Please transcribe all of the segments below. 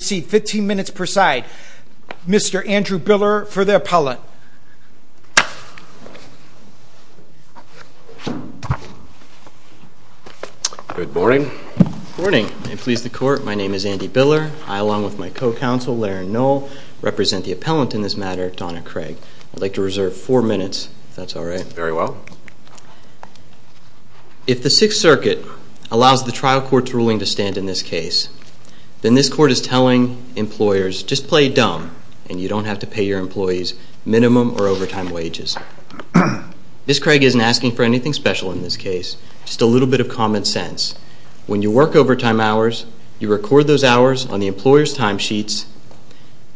15 minutes per side Mr. Andrew Biller for the appellant. Good morning. Good morning. May it please the court, my name is Andy Biller. I along with my co-counsel Larry Noll represent the appellant in this matter Donna Craig. I'd like to reserve four minutes if that's all right. Very well. If the Sixth Circuit allows the employers just play dumb and you don't have to pay your employees minimum or overtime wages. Ms. Craig isn't asking for anything special in this case, just a little bit of common sense. When you work overtime hours, you record those hours on the employer's timesheets,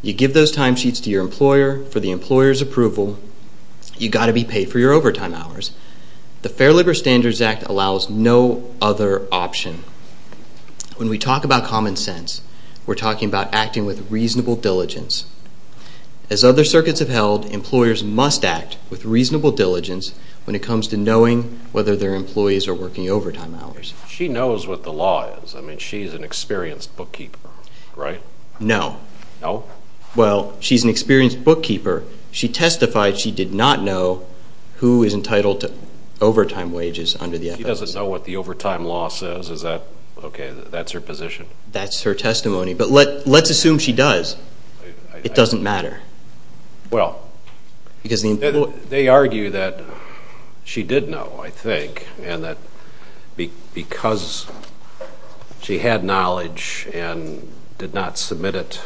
you give those timesheets to your employer for the employer's approval, you got to be paid for your overtime hours. The Fair Labor Standards Act allows no other option. When we talk about common sense, we're talking about acting with reasonable diligence. As other circuits have held, employers must act with reasonable diligence when it comes to knowing whether their employees are working overtime hours. She knows what the law is. I mean, she's an experienced bookkeeper, right? No. No? Well, she's an experienced bookkeeper. She testified she did not know who is entitled to overtime wages under the appellant. She doesn't know what the overtime law says. Is that, okay, that's her testimony, but let's assume she does. It doesn't matter. Well, they argue that she did know, I think, and that because she had knowledge and did not submit it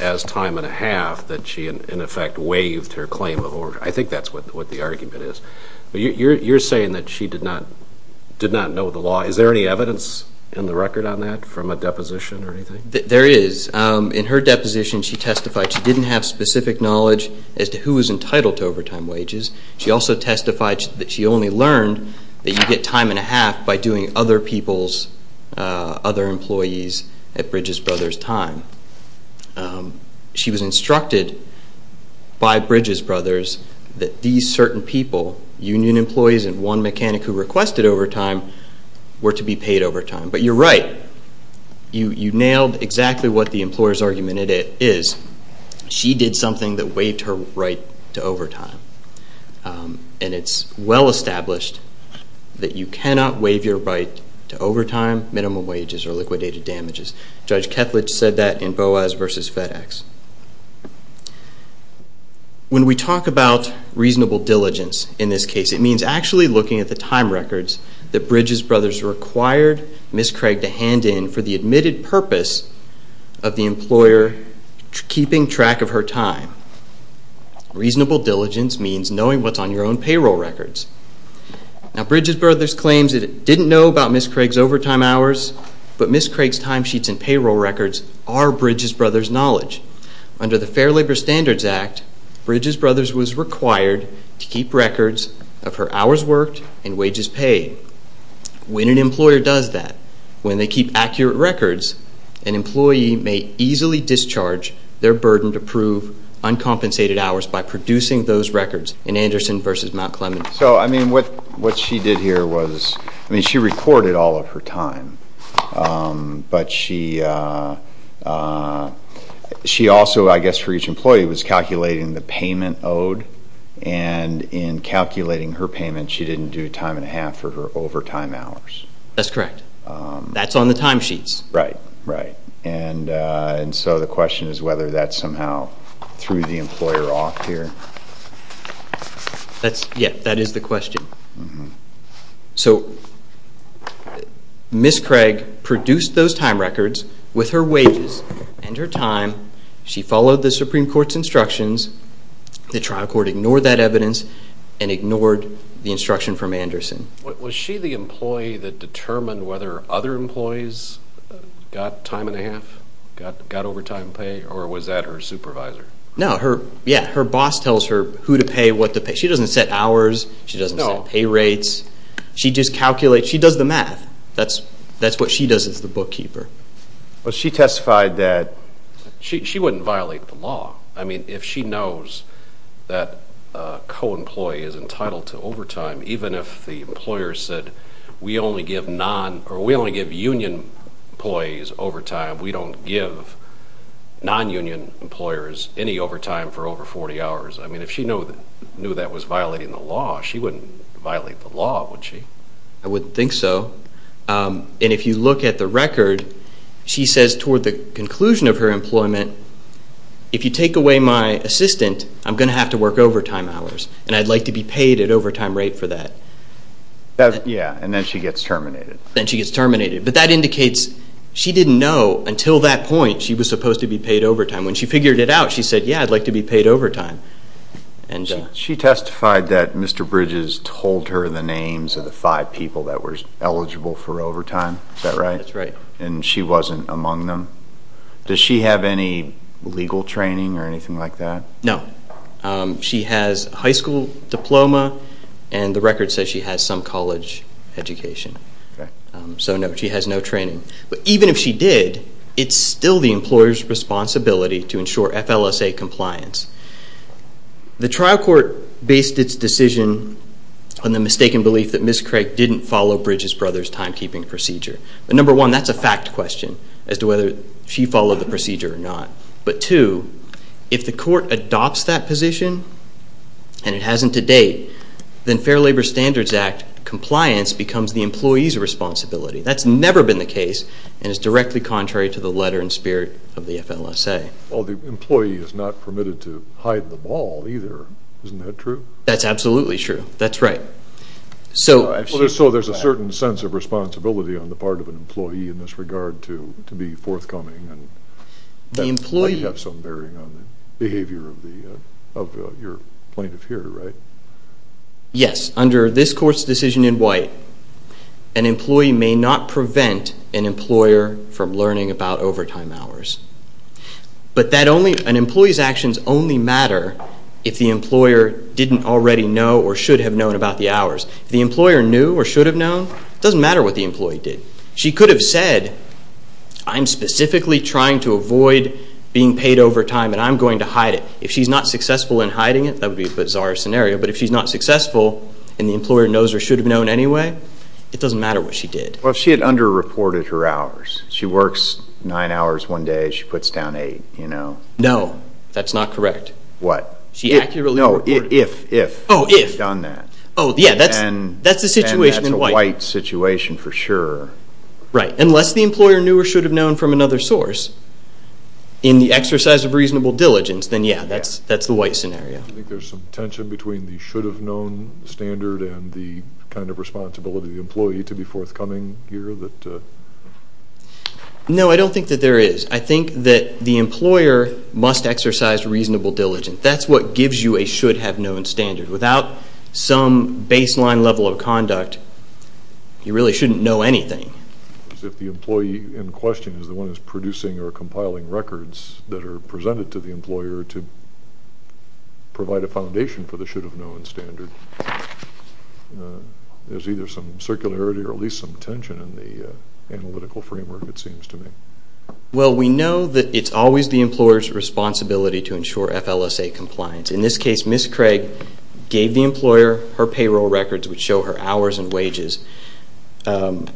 as time and a half that she, in effect, waived her claim of overtime. I think that's what the argument is. You're saying that she did not know the law. Is there any There is. In her deposition, she testified she didn't have specific knowledge as to who is entitled to overtime wages. She also testified that she only learned that you get time and a half by doing other people's, other employees at Bridges Brothers' time. She was instructed by Bridges Brothers that these certain people, union employees and one mechanic who requested overtime, were to be paid overtime. But you're right. You nailed exactly what the employer's argument is. She did something that waived her right to overtime. And it's well established that you cannot waive your right to overtime, minimum wages or liquidated damages. Judge Kethledge said that in Boas v. FedEx. When we talk about reasonable diligence in this case, it means actually looking at the time Ms. Craig to hand in for the admitted purpose of the employer keeping track of her time. Reasonable diligence means knowing what's on your own payroll records. Now Bridges Brothers claims that it didn't know about Ms. Craig's overtime hours, but Ms. Craig's time sheets and payroll records are Bridges Brothers' knowledge. Under the Fair Labor Standards Act, Bridges Brothers was required to keep records of her hours worked and wages paid. When an employer does that, when they keep accurate records, an employee may easily discharge their burden to prove uncompensated hours by producing those records in Anderson v. Mount Clemens. So I mean what what she did here was, I mean she recorded all of her time, but she also, I guess for each employee, was calculating the payment owed. And in calculating her payment, she didn't do time and a half for her overtime hours. That's correct. That's on the time sheets. Right, right. And so the question is whether that somehow threw the employer off here. That's, yeah, that is the question. So Ms. Craig produced those time records with her wages and her time. She followed the Supreme Court's instructions. The trial court ignored that evidence and ignored the instruction from Anderson. Was she the employee that determined whether other employees got time and a half, got overtime pay, or was that her supervisor? No, her, yeah, her boss tells her who to pay, what to pay. She doesn't set hours. She doesn't set pay rates. She just calculates. She does the math. That's what she does as the bookkeeper. But she testified that she wouldn't violate the law. I mean if she knows that a co-employee is entitled to overtime, even if the employer said we only give non, or we only give union employees overtime, we don't give non-union employers any overtime for over 40 hours. I mean if she knew that was violating the law, she wouldn't violate the law, would she? I wouldn't think so. And if you look at the record, she says toward the conclusion of her employment, if you take away my assistant, I'm going to have to work overtime hours, and I'd like to be paid at overtime rate for that. Yeah, and then she gets terminated. Then she gets terminated. But that indicates she didn't know until that point she was supposed to be paid overtime. When she figured it out, she said, yeah, I'd like to be paid overtime. She testified that Mr. Bridges told her the names of the five people that were eligible for overtime, is that right? That's right. And she wasn't among them. Does she have any legal training or anything like that? No. She has a high school diploma, and the record says she has some college education. So no, she has no training. But even if she did, it's still the employer's responsibility to ensure FLSA compliance. The trial court based its decision on the mistaken belief that Ms. Craig didn't follow Bridges' brother's timekeeping procedure. But number one, that's a fact question as to whether she followed the procedure or not. But two, if the court adopts that position and it hasn't to date, then Fair Labor Standards Act compliance becomes the employee's responsibility. That's never been the case, and it's directly contrary to the letter and spirit of the FLSA. Well, the employee is not permitted to hide the ball either. Isn't that true? That's absolutely true. That's right. So there's a certain sense of responsibility on the part of an employee in this regard to be forthcoming, and that might have some bearing on the behavior of your plaintiff here, right? Yes. Under this court's decision in white, an employee may not prevent an employer from learning about overtime hours. But an employee's actions only matter if the employer didn't already know or should have known. It doesn't matter what the employee did. She could have said, I'm specifically trying to avoid being paid overtime and I'm going to hide it. If she's not successful in hiding it, that would be a bizarre scenario. But if she's not successful and the employer knows or should have known anyway, it doesn't matter what she did. Well, if she had under-reported her hours. She works nine hours one day, she puts down eight, you know. No, that's not correct. What? She accurately reported. No, if she had done that. Oh, yeah, that's the situation in white. And that's a white situation for sure. Right. Unless the employer knew or should have known from another source in the exercise of reasonable diligence, then yeah, that's the white scenario. I think there's some tension between the should have known standard and the kind of responsibility of the employee to be forthcoming here. No, I don't think that there is. I think that the should have known standard is what gives you a should have known standard. Without some baseline level of conduct, you really shouldn't know anything. If the employee in question is the one who is producing or compiling records that are presented to the employer to provide a foundation for the should have known standard, there's either some circularity or at least some tension in the analytical framework, it seems to me. Well, we know that it's always the employer's responsibility to ensure FLSA compliance. In this case, Ms. Craig gave the employer her payroll records which show her hours and wages. So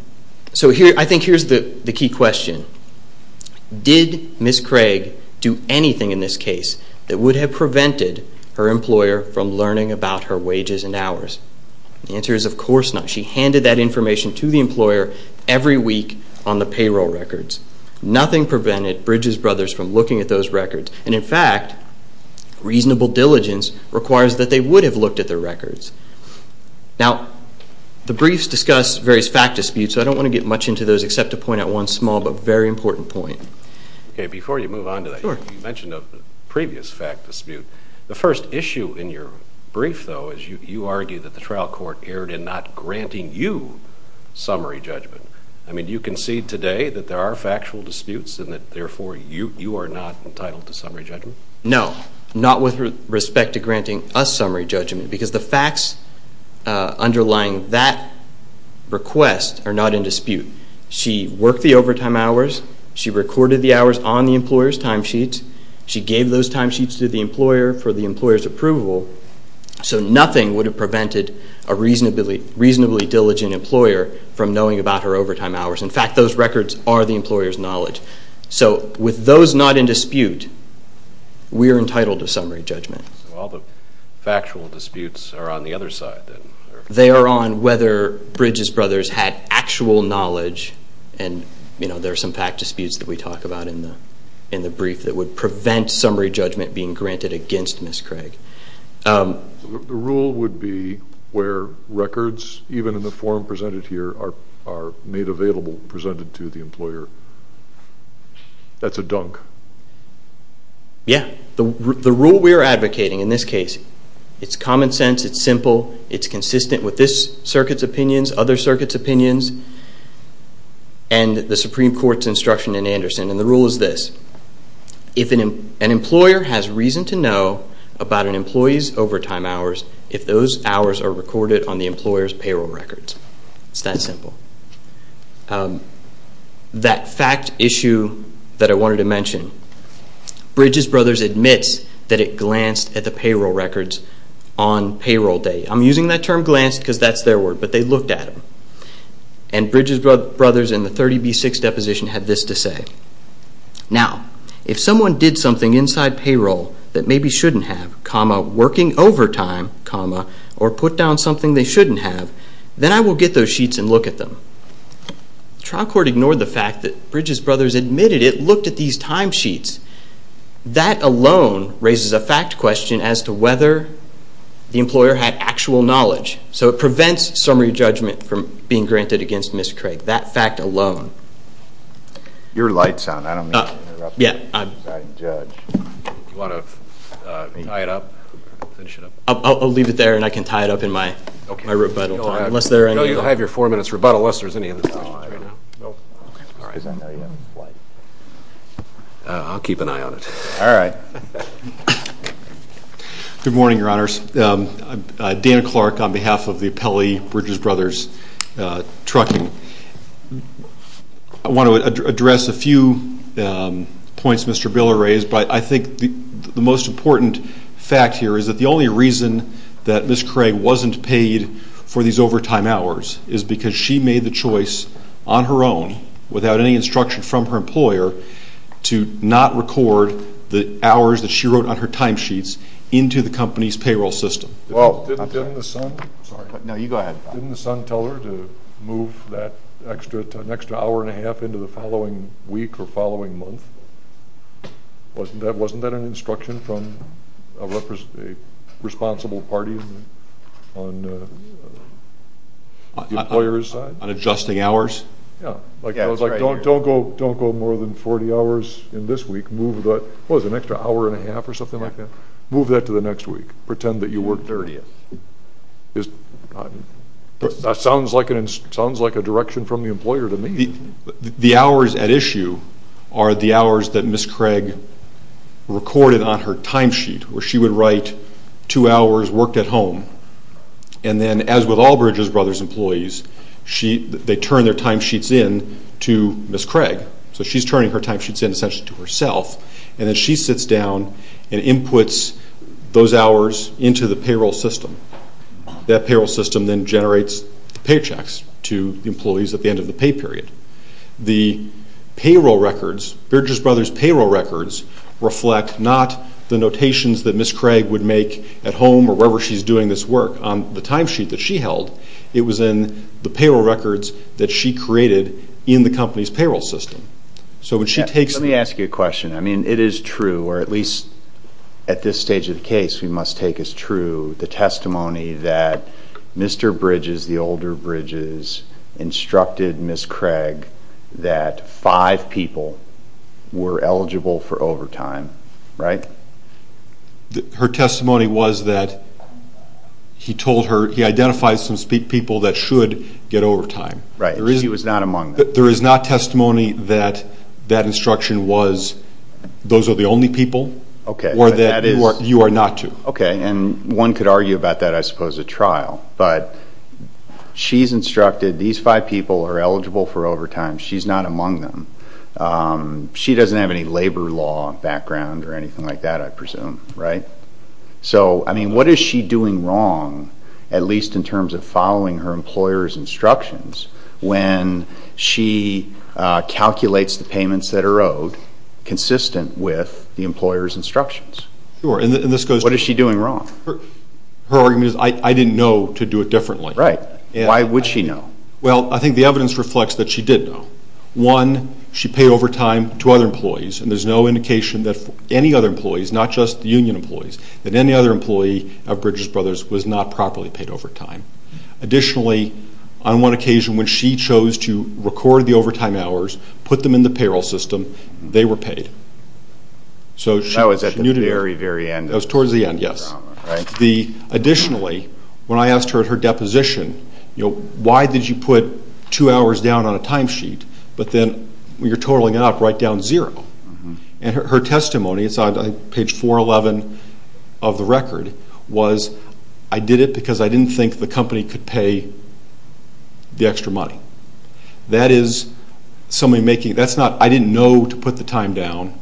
I think here's the key question. Did Ms. Craig do anything in this case that would have prevented her employer from learning about her wages and hours? The answer is of course not. She handed that information to the employer every week on the payroll records. Nothing prevented Bridges Brothers from looking at those records. And in fact, reasonable diligence requires that they would have looked at their records. Now, the briefs discuss various fact disputes, so I don't want to get much into those except to point out one small but very important point. Okay, before you move on to that, you mentioned a previous fact dispute. The first issue in your brief, though, is you argue that the trial court erred in not granting you summary judgment. I mean, do you concede today that there are factual disputes and that, therefore, you are not entitled to summary judgment? No, not with respect to granting us summary judgment because the facts underlying that request are not in dispute. She worked the overtime hours. She recorded the hours on the employer's timesheet. She gave those timesheets to the employer for the employer's approval. So nothing would have prevented a reasonably diligent employer from knowing about her overtime hours. In fact, those records are the employer's knowledge. So with those not in dispute, we are entitled to summary judgment. So all the factual disputes are on the other side then? They are on whether Bridges Brothers had actual knowledge and, you know, there are some fact disputes that we talk about in the brief that would prevent summary judgment being granted against Ms. Craig. The rule would be where records, even in the form presented here, are made available, presented to the employer. That's a dunk. Yeah. The rule we are advocating in this case, it's common sense, it's simple, it's consistent with this circuit's opinions, other circuits' opinions, and the Supreme Court's instruction in Anderson. And the rule is this. If an employer has reason to know about an employee's overtime hours, if those hours are recorded on the employer's payroll records. It's that simple. That fact issue that I wanted to mention, Bridges Brothers admits that it glanced at the payroll records on payroll day. I'm using that term glanced because that's their word, but they looked at them. And Bridges Brothers in the 30B6 deposition had this to say. Now, if someone did something inside payroll that maybe shouldn't have, comma, working overtime, comma, or put down something they shouldn't have, then I will get those sheets and look at them. The trial court ignored the fact that Bridges Brothers admitted it looked at these time sheets. That alone raises a fact question as to whether the employer had actual knowledge. So it prevents summary judgment from being granted against Ms. Craig. That fact alone. Your light's on. I don't mean to interrupt. I'll leave it there and I can tie it up in my rebuttal. You have your four minutes rebuttal unless there's any other questions. I'll keep an eye on it. Good morning, Your Honors. I'm Dan Clark on behalf of the Appellee Bridges Brothers Trucking. I want to address a few points Mr. Biller raised, but I think the most important fact here is that the only reason that Ms. Craig wasn't paid for these overtime hours is because she made the choice on her own without any instruction from her employer to not record the hours that she wrote on her time sheets into the company's payroll system. Didn't the son tell her to move that extra hour and a half into the following week or following month? Wasn't that an instruction from a responsible party on the employer's side? On adjusting hours? Yeah. I was like, don't go more than 40 hours in this week. What was it, an extra hour and a half or something like that? Move that to the next week. Pretend that you worked 30. That sounds like a direction from the employer to me. The hours at issue are the hours that Ms. Craig recorded on her time sheet where she would write two hours worked at home and then as with all Bridges Brothers employees, they turn their time sheets in to Ms. Craig. So she's turning her time sheets in essentially to herself and then she sits down and inputs those hours into the payroll system. That payroll system then generates the paychecks to the employees at the end of the pay period. The payroll records, Bridges Brothers payroll records reflect not the notations that Ms. Craig would make at home or wherever she's doing this work on the time sheet that she held. It was in the payroll records that she created in the company's payroll system. So when she takes... Let me ask you a question. I mean it is true or at least at this stage of the case we must take as true the testimony that Mr. Bridges, the older Bridges instructed Ms. Craig that five people were eligible for overtime, right? Her testimony was that he told her, he identified some people that should get overtime. Right. She was not among them. There is not testimony that that instruction was those are the only people or that you are not to. Okay and one could argue about that I suppose at trial. But she's instructed these five people are eligible for overtime. She's not among them. She doesn't have any labor law background or anything like that I presume, right? So I mean what is she doing wrong at least in terms of following instructions when she calculates the payments that are owed consistent with the employer's instructions? Sure and this goes... What is she doing wrong? Her argument is I didn't know to do it differently. Right. Why would she know? Well I think the evidence reflects that she did know. One, she paid overtime to other employees and there's no indication that any other on one occasion when she chose to record the overtime hours, put them in the payroll system, they were paid. So she knew to do it. That was at the very, very end. That was towards the end, yes. Additionally, when I asked her at her deposition, you know, why did you put two hours down on a time sheet but then when you're totaling it up, write down zero? And her testimony, it's on page 411 of the record, was I did it because I didn't think the company could pay the extra money. That is somebody making... That's not... I didn't know to put the time down.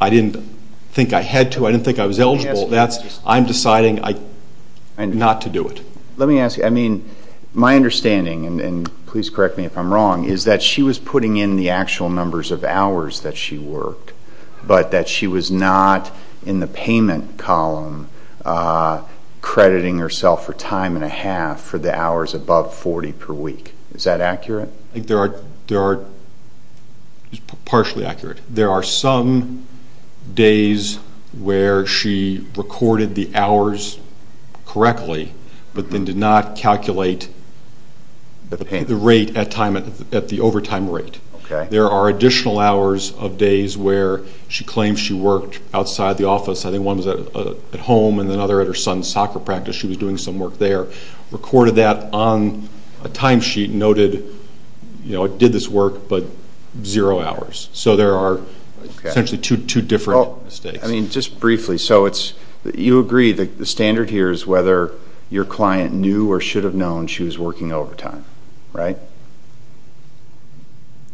I didn't think I had to. I didn't think I was eligible. I'm deciding not to do it. Let me ask you, I mean, my understanding, and please correct me if I'm wrong, is that she was putting in the actual numbers of hours that she worked but that she was not in the payment column crediting herself for time and a half for the hours above 40 per week. Is that accurate? I think there are... It's partially accurate. There are some days where she recorded the hours correctly but then did not calculate the rate at the overtime rate. There are additional hours of days where she claims she worked outside the office. I think one was at home and another at her son's soccer practice. She was doing some work there. Recorded that on a time sheet and noted, you know, I did this work but zero hours. So there are essentially two different mistakes. I mean, just briefly, so it's... You agree the standard here is whether your client knew or should have known she was working overtime, right?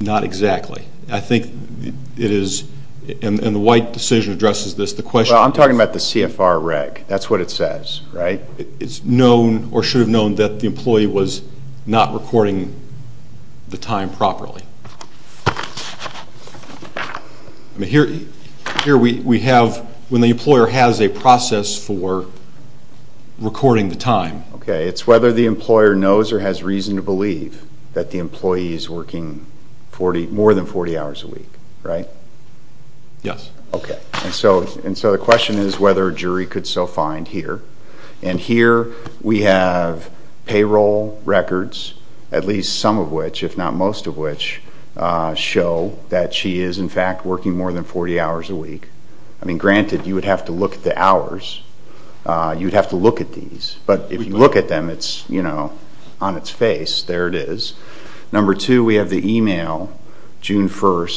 Not exactly. I think it is... And the White decision addresses this. The question is... Well, I'm talking about the CFR reg. That's what it says, right? It's known or should have known that the employee was not recording the time properly. Here we have when the employer has a process for recording the time. Okay. It's whether the employer knows or has reason to believe that the employee is working more than 40 hours a week, right? Yes. Okay. And so the question is whether a jury could so find here. And here we have payroll records, at least some of which, if not most of which, show that she is, in fact, working more than 40 hours a week. I mean, granted, you would have to look at the hours. You would have to look at these. But if you look at them, it's, you know, on its face. There it is. Number two, we have the email, June 1,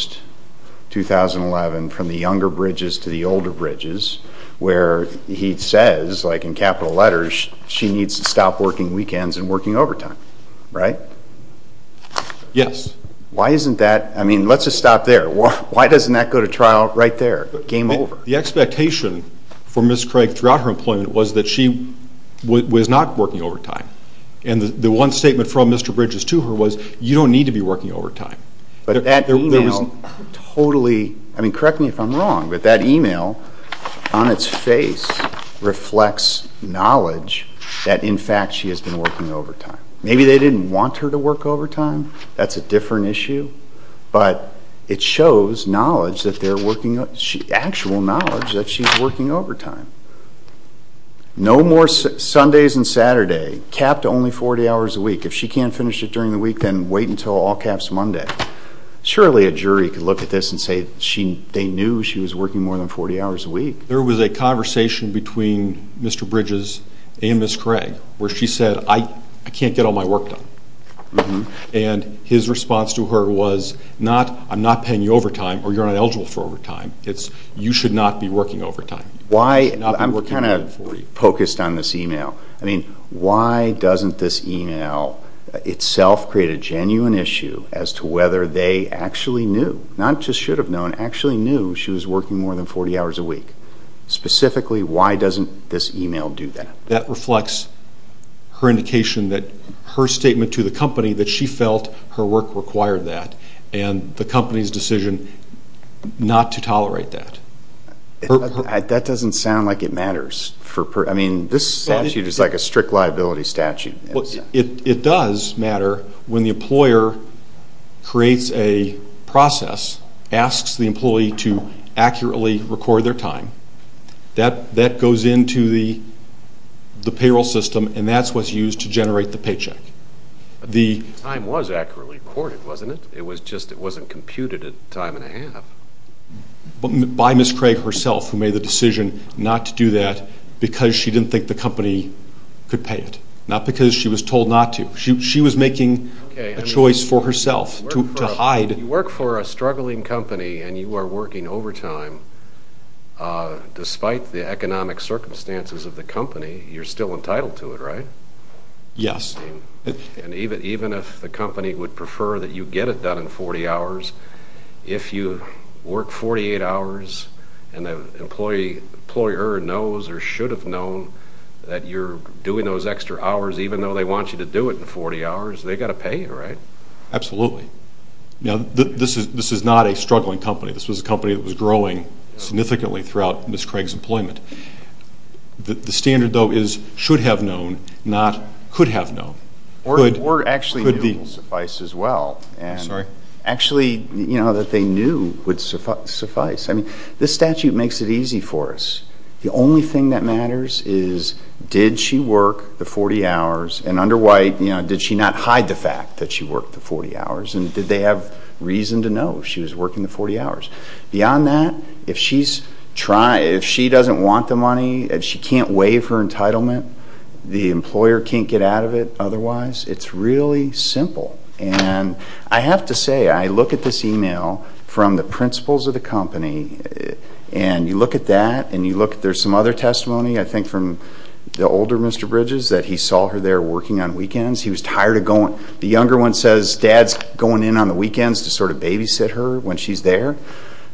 2011, from the younger Bridges to the older Bridges, where he says, like in capital letters, she needs to stop working weekends and working overtime, right? Yes. Why isn't that... I mean, let's just stop there. Why doesn't that go to trial right there, game over? The expectation for Ms. Craig throughout her employment was that she was not working overtime. And the one statement from Mr. Bridges to her was, you don't need to be working overtime. But that email totally... I mean, correct me if I'm wrong, but that email on its face reflects knowledge that, in fact, she has been working overtime. Maybe they didn't want her to work overtime. That's a different issue. But it shows knowledge that they're working... actual knowledge that she's working overtime. No more Sundays and Saturday. Capped only 40 hours a week. If she can't finish it during the week, then wait until all caps Monday. Surely a jury could look at this and say they knew she was working more than 40 hours a week. There was a conversation between Mr. Bridges and Ms. Craig where she said, I can't get all my work done. And his response to her was not, I'm not paying you overtime or you're not eligible for overtime. It's, you should not be working overtime. I'm kind of focused on this email. I mean, why doesn't this email itself create a genuine issue as to whether they actually knew, not just should have known, actually knew she was working more than 40 hours a week? Specifically, why doesn't this email do that? That reflects her indication that her statement to the company that she felt her work required that and the company's decision not to tolerate that. That doesn't sound like it matters. I mean, this statute is like a strict liability statute. It does matter when the employer creates a process, asks the employee to accurately record their time. That goes into the payroll system and that's what's used to generate the paycheck. The time was accurately recorded, wasn't it? It was just it wasn't computed at time and a half. By Ms. Craig herself who made the decision not to do that because she didn't think the company could pay it, not because she was told not to. She was making a choice for herself to hide. You work for a struggling company and you are working overtime. Despite the economic circumstances of the company, you're still entitled to it, right? Yes. Even if the company would prefer that you get it done in 40 hours, if you work 48 hours and the employer knows or should have known that you're doing those extra hours, even though they want you to do it in 40 hours, they've got to pay you, right? Absolutely. This is not a struggling company. This was a company that was growing significantly throughout Ms. Craig's employment. The standard, though, is should have known, not could have known. Or actually knew would suffice as well. I'm sorry? Actually, you know, that they knew would suffice. I mean, this statute makes it easy for us. The only thing that matters is did she work the 40 hours and under White, you know, did she not hide the fact that she worked the 40 hours and did they have reason to know she was working the 40 hours? Beyond that, if she doesn't want the money, if she can't waive her entitlement, the employer can't get out of it otherwise. It's really simple. And I have to say, I look at this email from the principals of the company and you look at that and you look at there's some other testimony, I think, from the older Mr. Bridges that he saw her there working on weekends. The younger one says dad's going in on the weekends to sort of babysit her when she's there.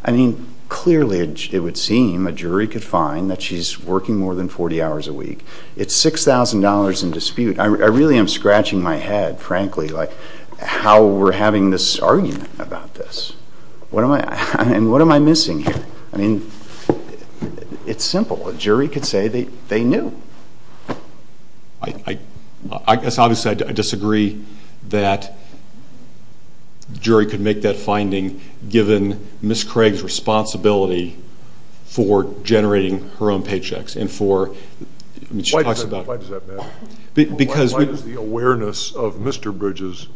I mean, clearly it would seem a jury could find that she's working more than 40 hours a week. It's $6,000 in dispute. I really am scratching my head, frankly, like how we're having this argument about this. And what am I missing here? I mean, it's simple. A jury could say they knew. I guess obviously I disagree that the jury could make that finding given Ms. Craig's responsibility for generating her own paychecks. Why does that matter? Why is the awareness of Mr. Bridges,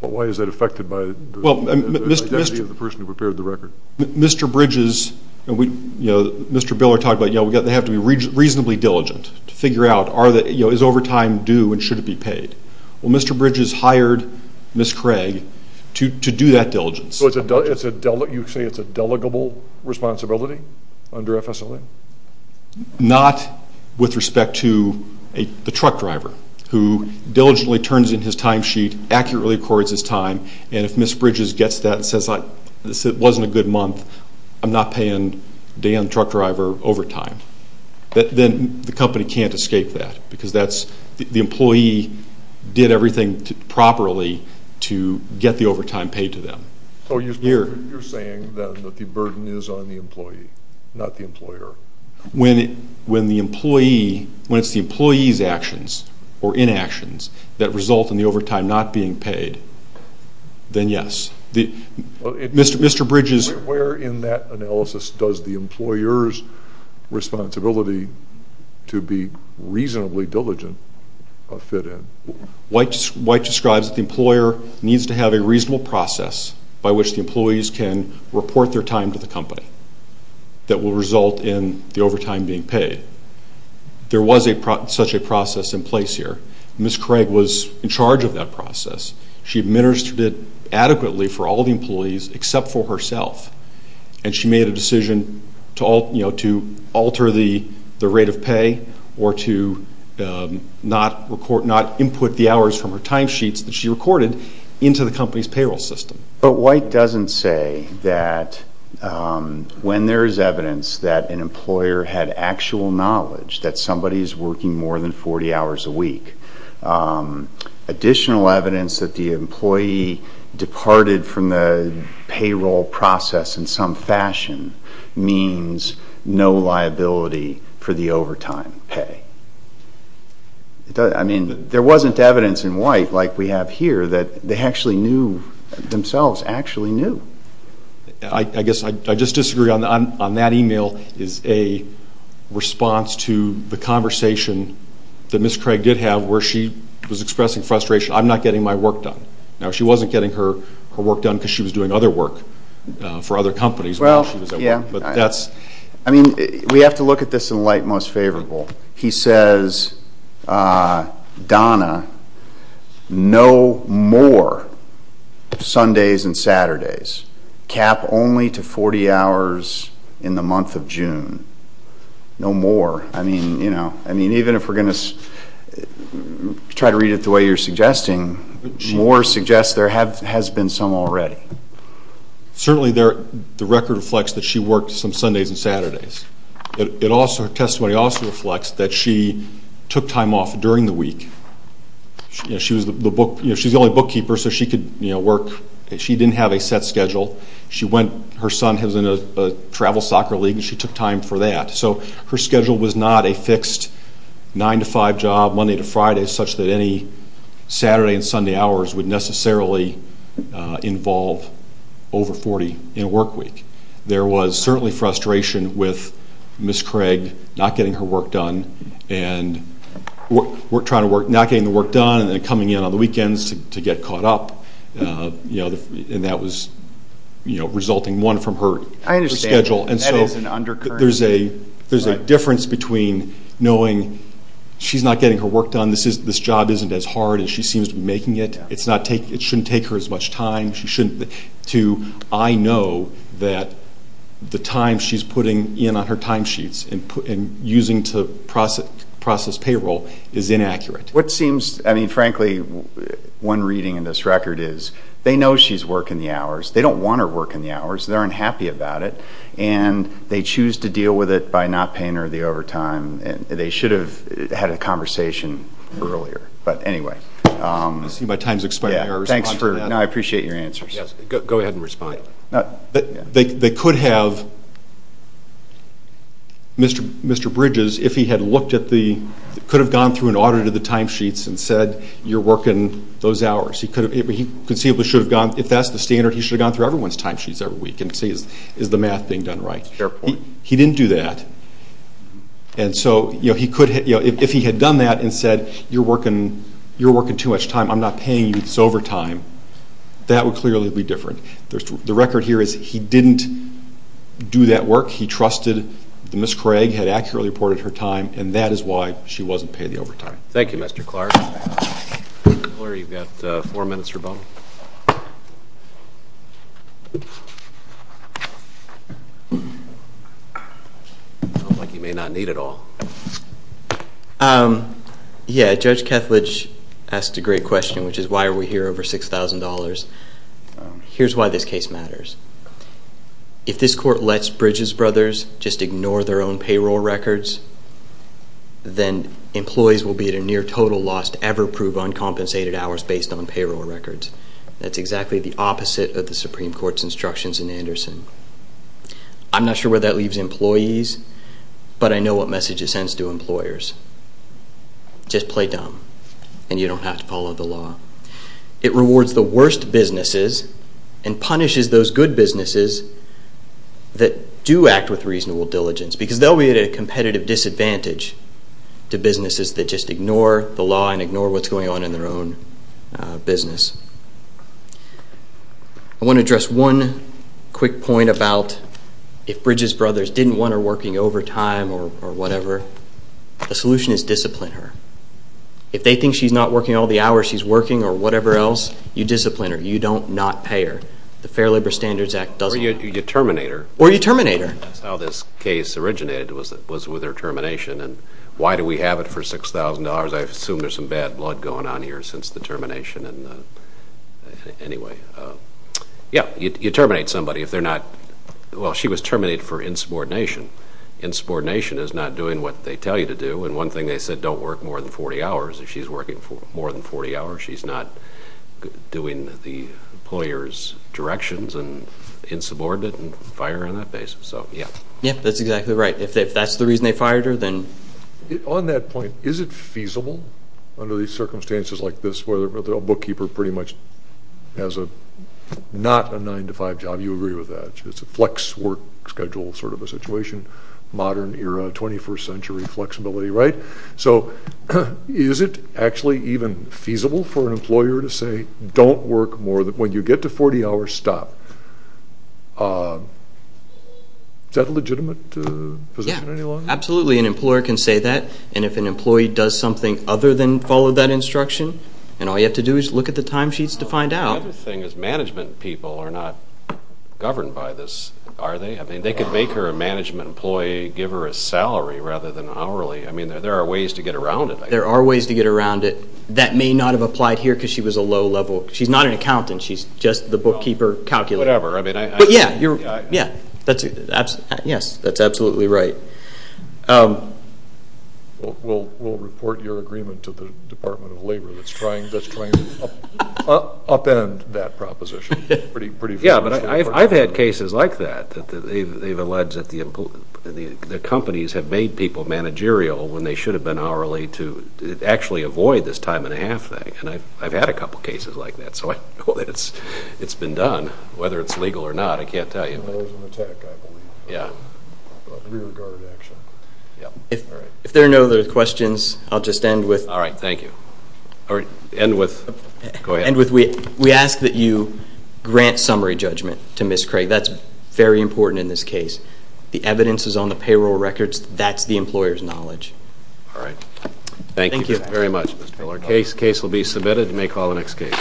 why is that affected by the identity of the person who prepared the record? Mr. Bridges and Mr. Biller talked about they have to be reasonably diligent to figure out is overtime due and should it be paid? Well, Mr. Bridges hired Ms. Craig to do that diligence. So you say it's a delegable responsibility under FSLA? Not with respect to the truck driver who diligently turns in his time sheet, accurately records his time, and if Ms. Bridges gets that and says it wasn't a good month, I'm not paying Dan, the truck driver, overtime. Then the company can't escape that because the employee did everything properly to get the overtime paid to them. So you're saying then that the burden is on the employee, not the employer? When it's the employee's actions or inactions that result in the overtime not being paid, then yes. Where in that analysis does the employer's responsibility to be reasonably diligent fit in? White describes that the employer needs to have a reasonable process by which the employees can report their time to the company that will result in the overtime being paid. There was such a process in place here. Ms. Craig was in charge of that process. She administered it adequately for all the employees except for herself, and she made a decision to alter the rate of pay or to not input the hours from her time sheets that she recorded into the company's payroll system. But White doesn't say that when there is evidence that an employer had actual knowledge that somebody is working more than 40 hours a week, additional evidence that the employee departed from the payroll process in some fashion means no liability for the overtime pay. I mean, there wasn't evidence in White like we have here that they actually knew, themselves actually knew. I guess I just disagree on that email is a response to the conversation that Ms. Craig did have where she was expressing frustration. I'm not getting my work done. Now, she wasn't getting her work done because she was doing other work for other companies while she was at White. I mean, we have to look at this in light most favorable. He says, Donna, no more Sundays and Saturdays. Cap only to 40 hours in the month of June. No more. I mean, even if we're going to try to read it the way you're suggesting, more suggests there has been some already. Certainly, the record reflects that she worked some Sundays and Saturdays. Her testimony also reflects that she took time off during the week. She was the only bookkeeper, so she could work. She didn't have a set schedule. Her son was in a travel soccer league, and she took time for that. So her schedule was not a fixed 9 to 5 job, Monday to Friday, such that any Saturday and Sunday hours would necessarily involve over 40 in a work week. There was certainly frustration with Ms. Craig not getting her work done and not getting the work done and then coming in on the weekends to get caught up, and that was resulting, one, from her schedule. I understand. That is an undercurrent. There's a difference between knowing she's not getting her work done. This job isn't as hard as she seems to be making it. It shouldn't take her as much time. I know that the time she's putting in on her time sheets and using to process payroll is inaccurate. Frankly, one reading in this record is they know she's working the hours. They don't want her working the hours. They're unhappy about it, and they choose to deal with it by not paying her the overtime. They should have had a conversation earlier. I see my time is expiring. I appreciate your answers. Go ahead and respond. They could have, Mr. Bridges, if he had looked at the, could have gone through and audited the time sheets and said you're working those hours. He conceivably should have gone, if that's the standard, he should have gone through everyone's time sheets every week and see is the math being done right. Fair point. He didn't do that. And so if he had done that and said you're working too much time, I'm not paying you this overtime, that would clearly be different. The record here is he didn't do that work. He trusted that Ms. Craig had accurately reported her time, and that is why she wasn't paying the overtime. Thank you, Mr. Clark. Employer, you've got four minutes for a moment. You may not need it all. Yeah, Judge Kethledge asked a great question, which is why are we here over $6,000. Here's why this case matters. If this court lets Bridges brothers just ignore their own payroll records, then employees will be at a near total loss to ever prove uncompensated hours based on payroll records. That's exactly the opposite of the Supreme Court's instructions in Anderson. I'm not sure where that leaves employees, but I know what message it sends to employers. Just play dumb, and you don't have to follow the law. It rewards the worst businesses and punishes those good businesses that do act with reasonable diligence, because they'll be at a competitive disadvantage to businesses that just ignore the law and ignore what's going on in their own business. I want to address one quick point about if Bridges brothers didn't want her working overtime or whatever, the solution is discipline her. If they think she's not working all the hours she's working or whatever else, you discipline her. You don't not pay her. The Fair Labor Standards Act doesn't. Or you terminate her. Or you terminate her. That's how this case originated, was with her termination. And why do we have it for $6,000? I assume there's some bad blood going on here since the termination. Anyway, yeah, you terminate somebody if they're not. Well, she was terminated for insubordination. Insubordination is not doing what they tell you to do. And one thing they said, don't work more than 40 hours. If she's working more than 40 hours, she's not doing the employer's directions and insubordinate and fire her on that basis. Yeah, that's exactly right. If that's the reason they fired her, then. On that point, is it feasible under these circumstances like this where a bookkeeper pretty much has not a 9-to-5 job? You agree with that. It's a flex work schedule sort of a situation, modern era, 21st century flexibility, right? So is it actually even feasible for an employer to say, don't work more? When you get to 40 hours, stop. Is that a legitimate position any longer? Yeah, absolutely. An employer can say that. And if an employee does something other than follow that instruction, then all you have to do is look at the time sheets to find out. The other thing is management people are not governed by this, are they? I mean, they could make her a management employee, give her a salary rather than hourly. I mean, there are ways to get around it. There are ways to get around it. That may not have applied here because she was a low level. She's not an accountant. She's just the bookkeeper calculator. Whatever. But, yeah, yes, that's absolutely right. We'll report your agreement to the Department of Labor that's trying to upend that proposition. Yeah, but I've had cases like that. They've alleged that the companies have made people managerial when they should have been hourly to actually avoid this time and a half thing. And I've had a couple cases like that. So I know that it's been done. Whether it's legal or not, I can't tell you. There was an attack, I believe. Yeah. A re-regarded action. If there are no other questions, I'll just end with. All right. Thank you. End with. Go ahead. We ask that you grant summary judgment to Ms. Craig. That's very important in this case. The evidence is on the payroll records. That's the employer's knowledge. All right. Thank you very much, Mr. Miller. Case will be submitted. You may call the next case.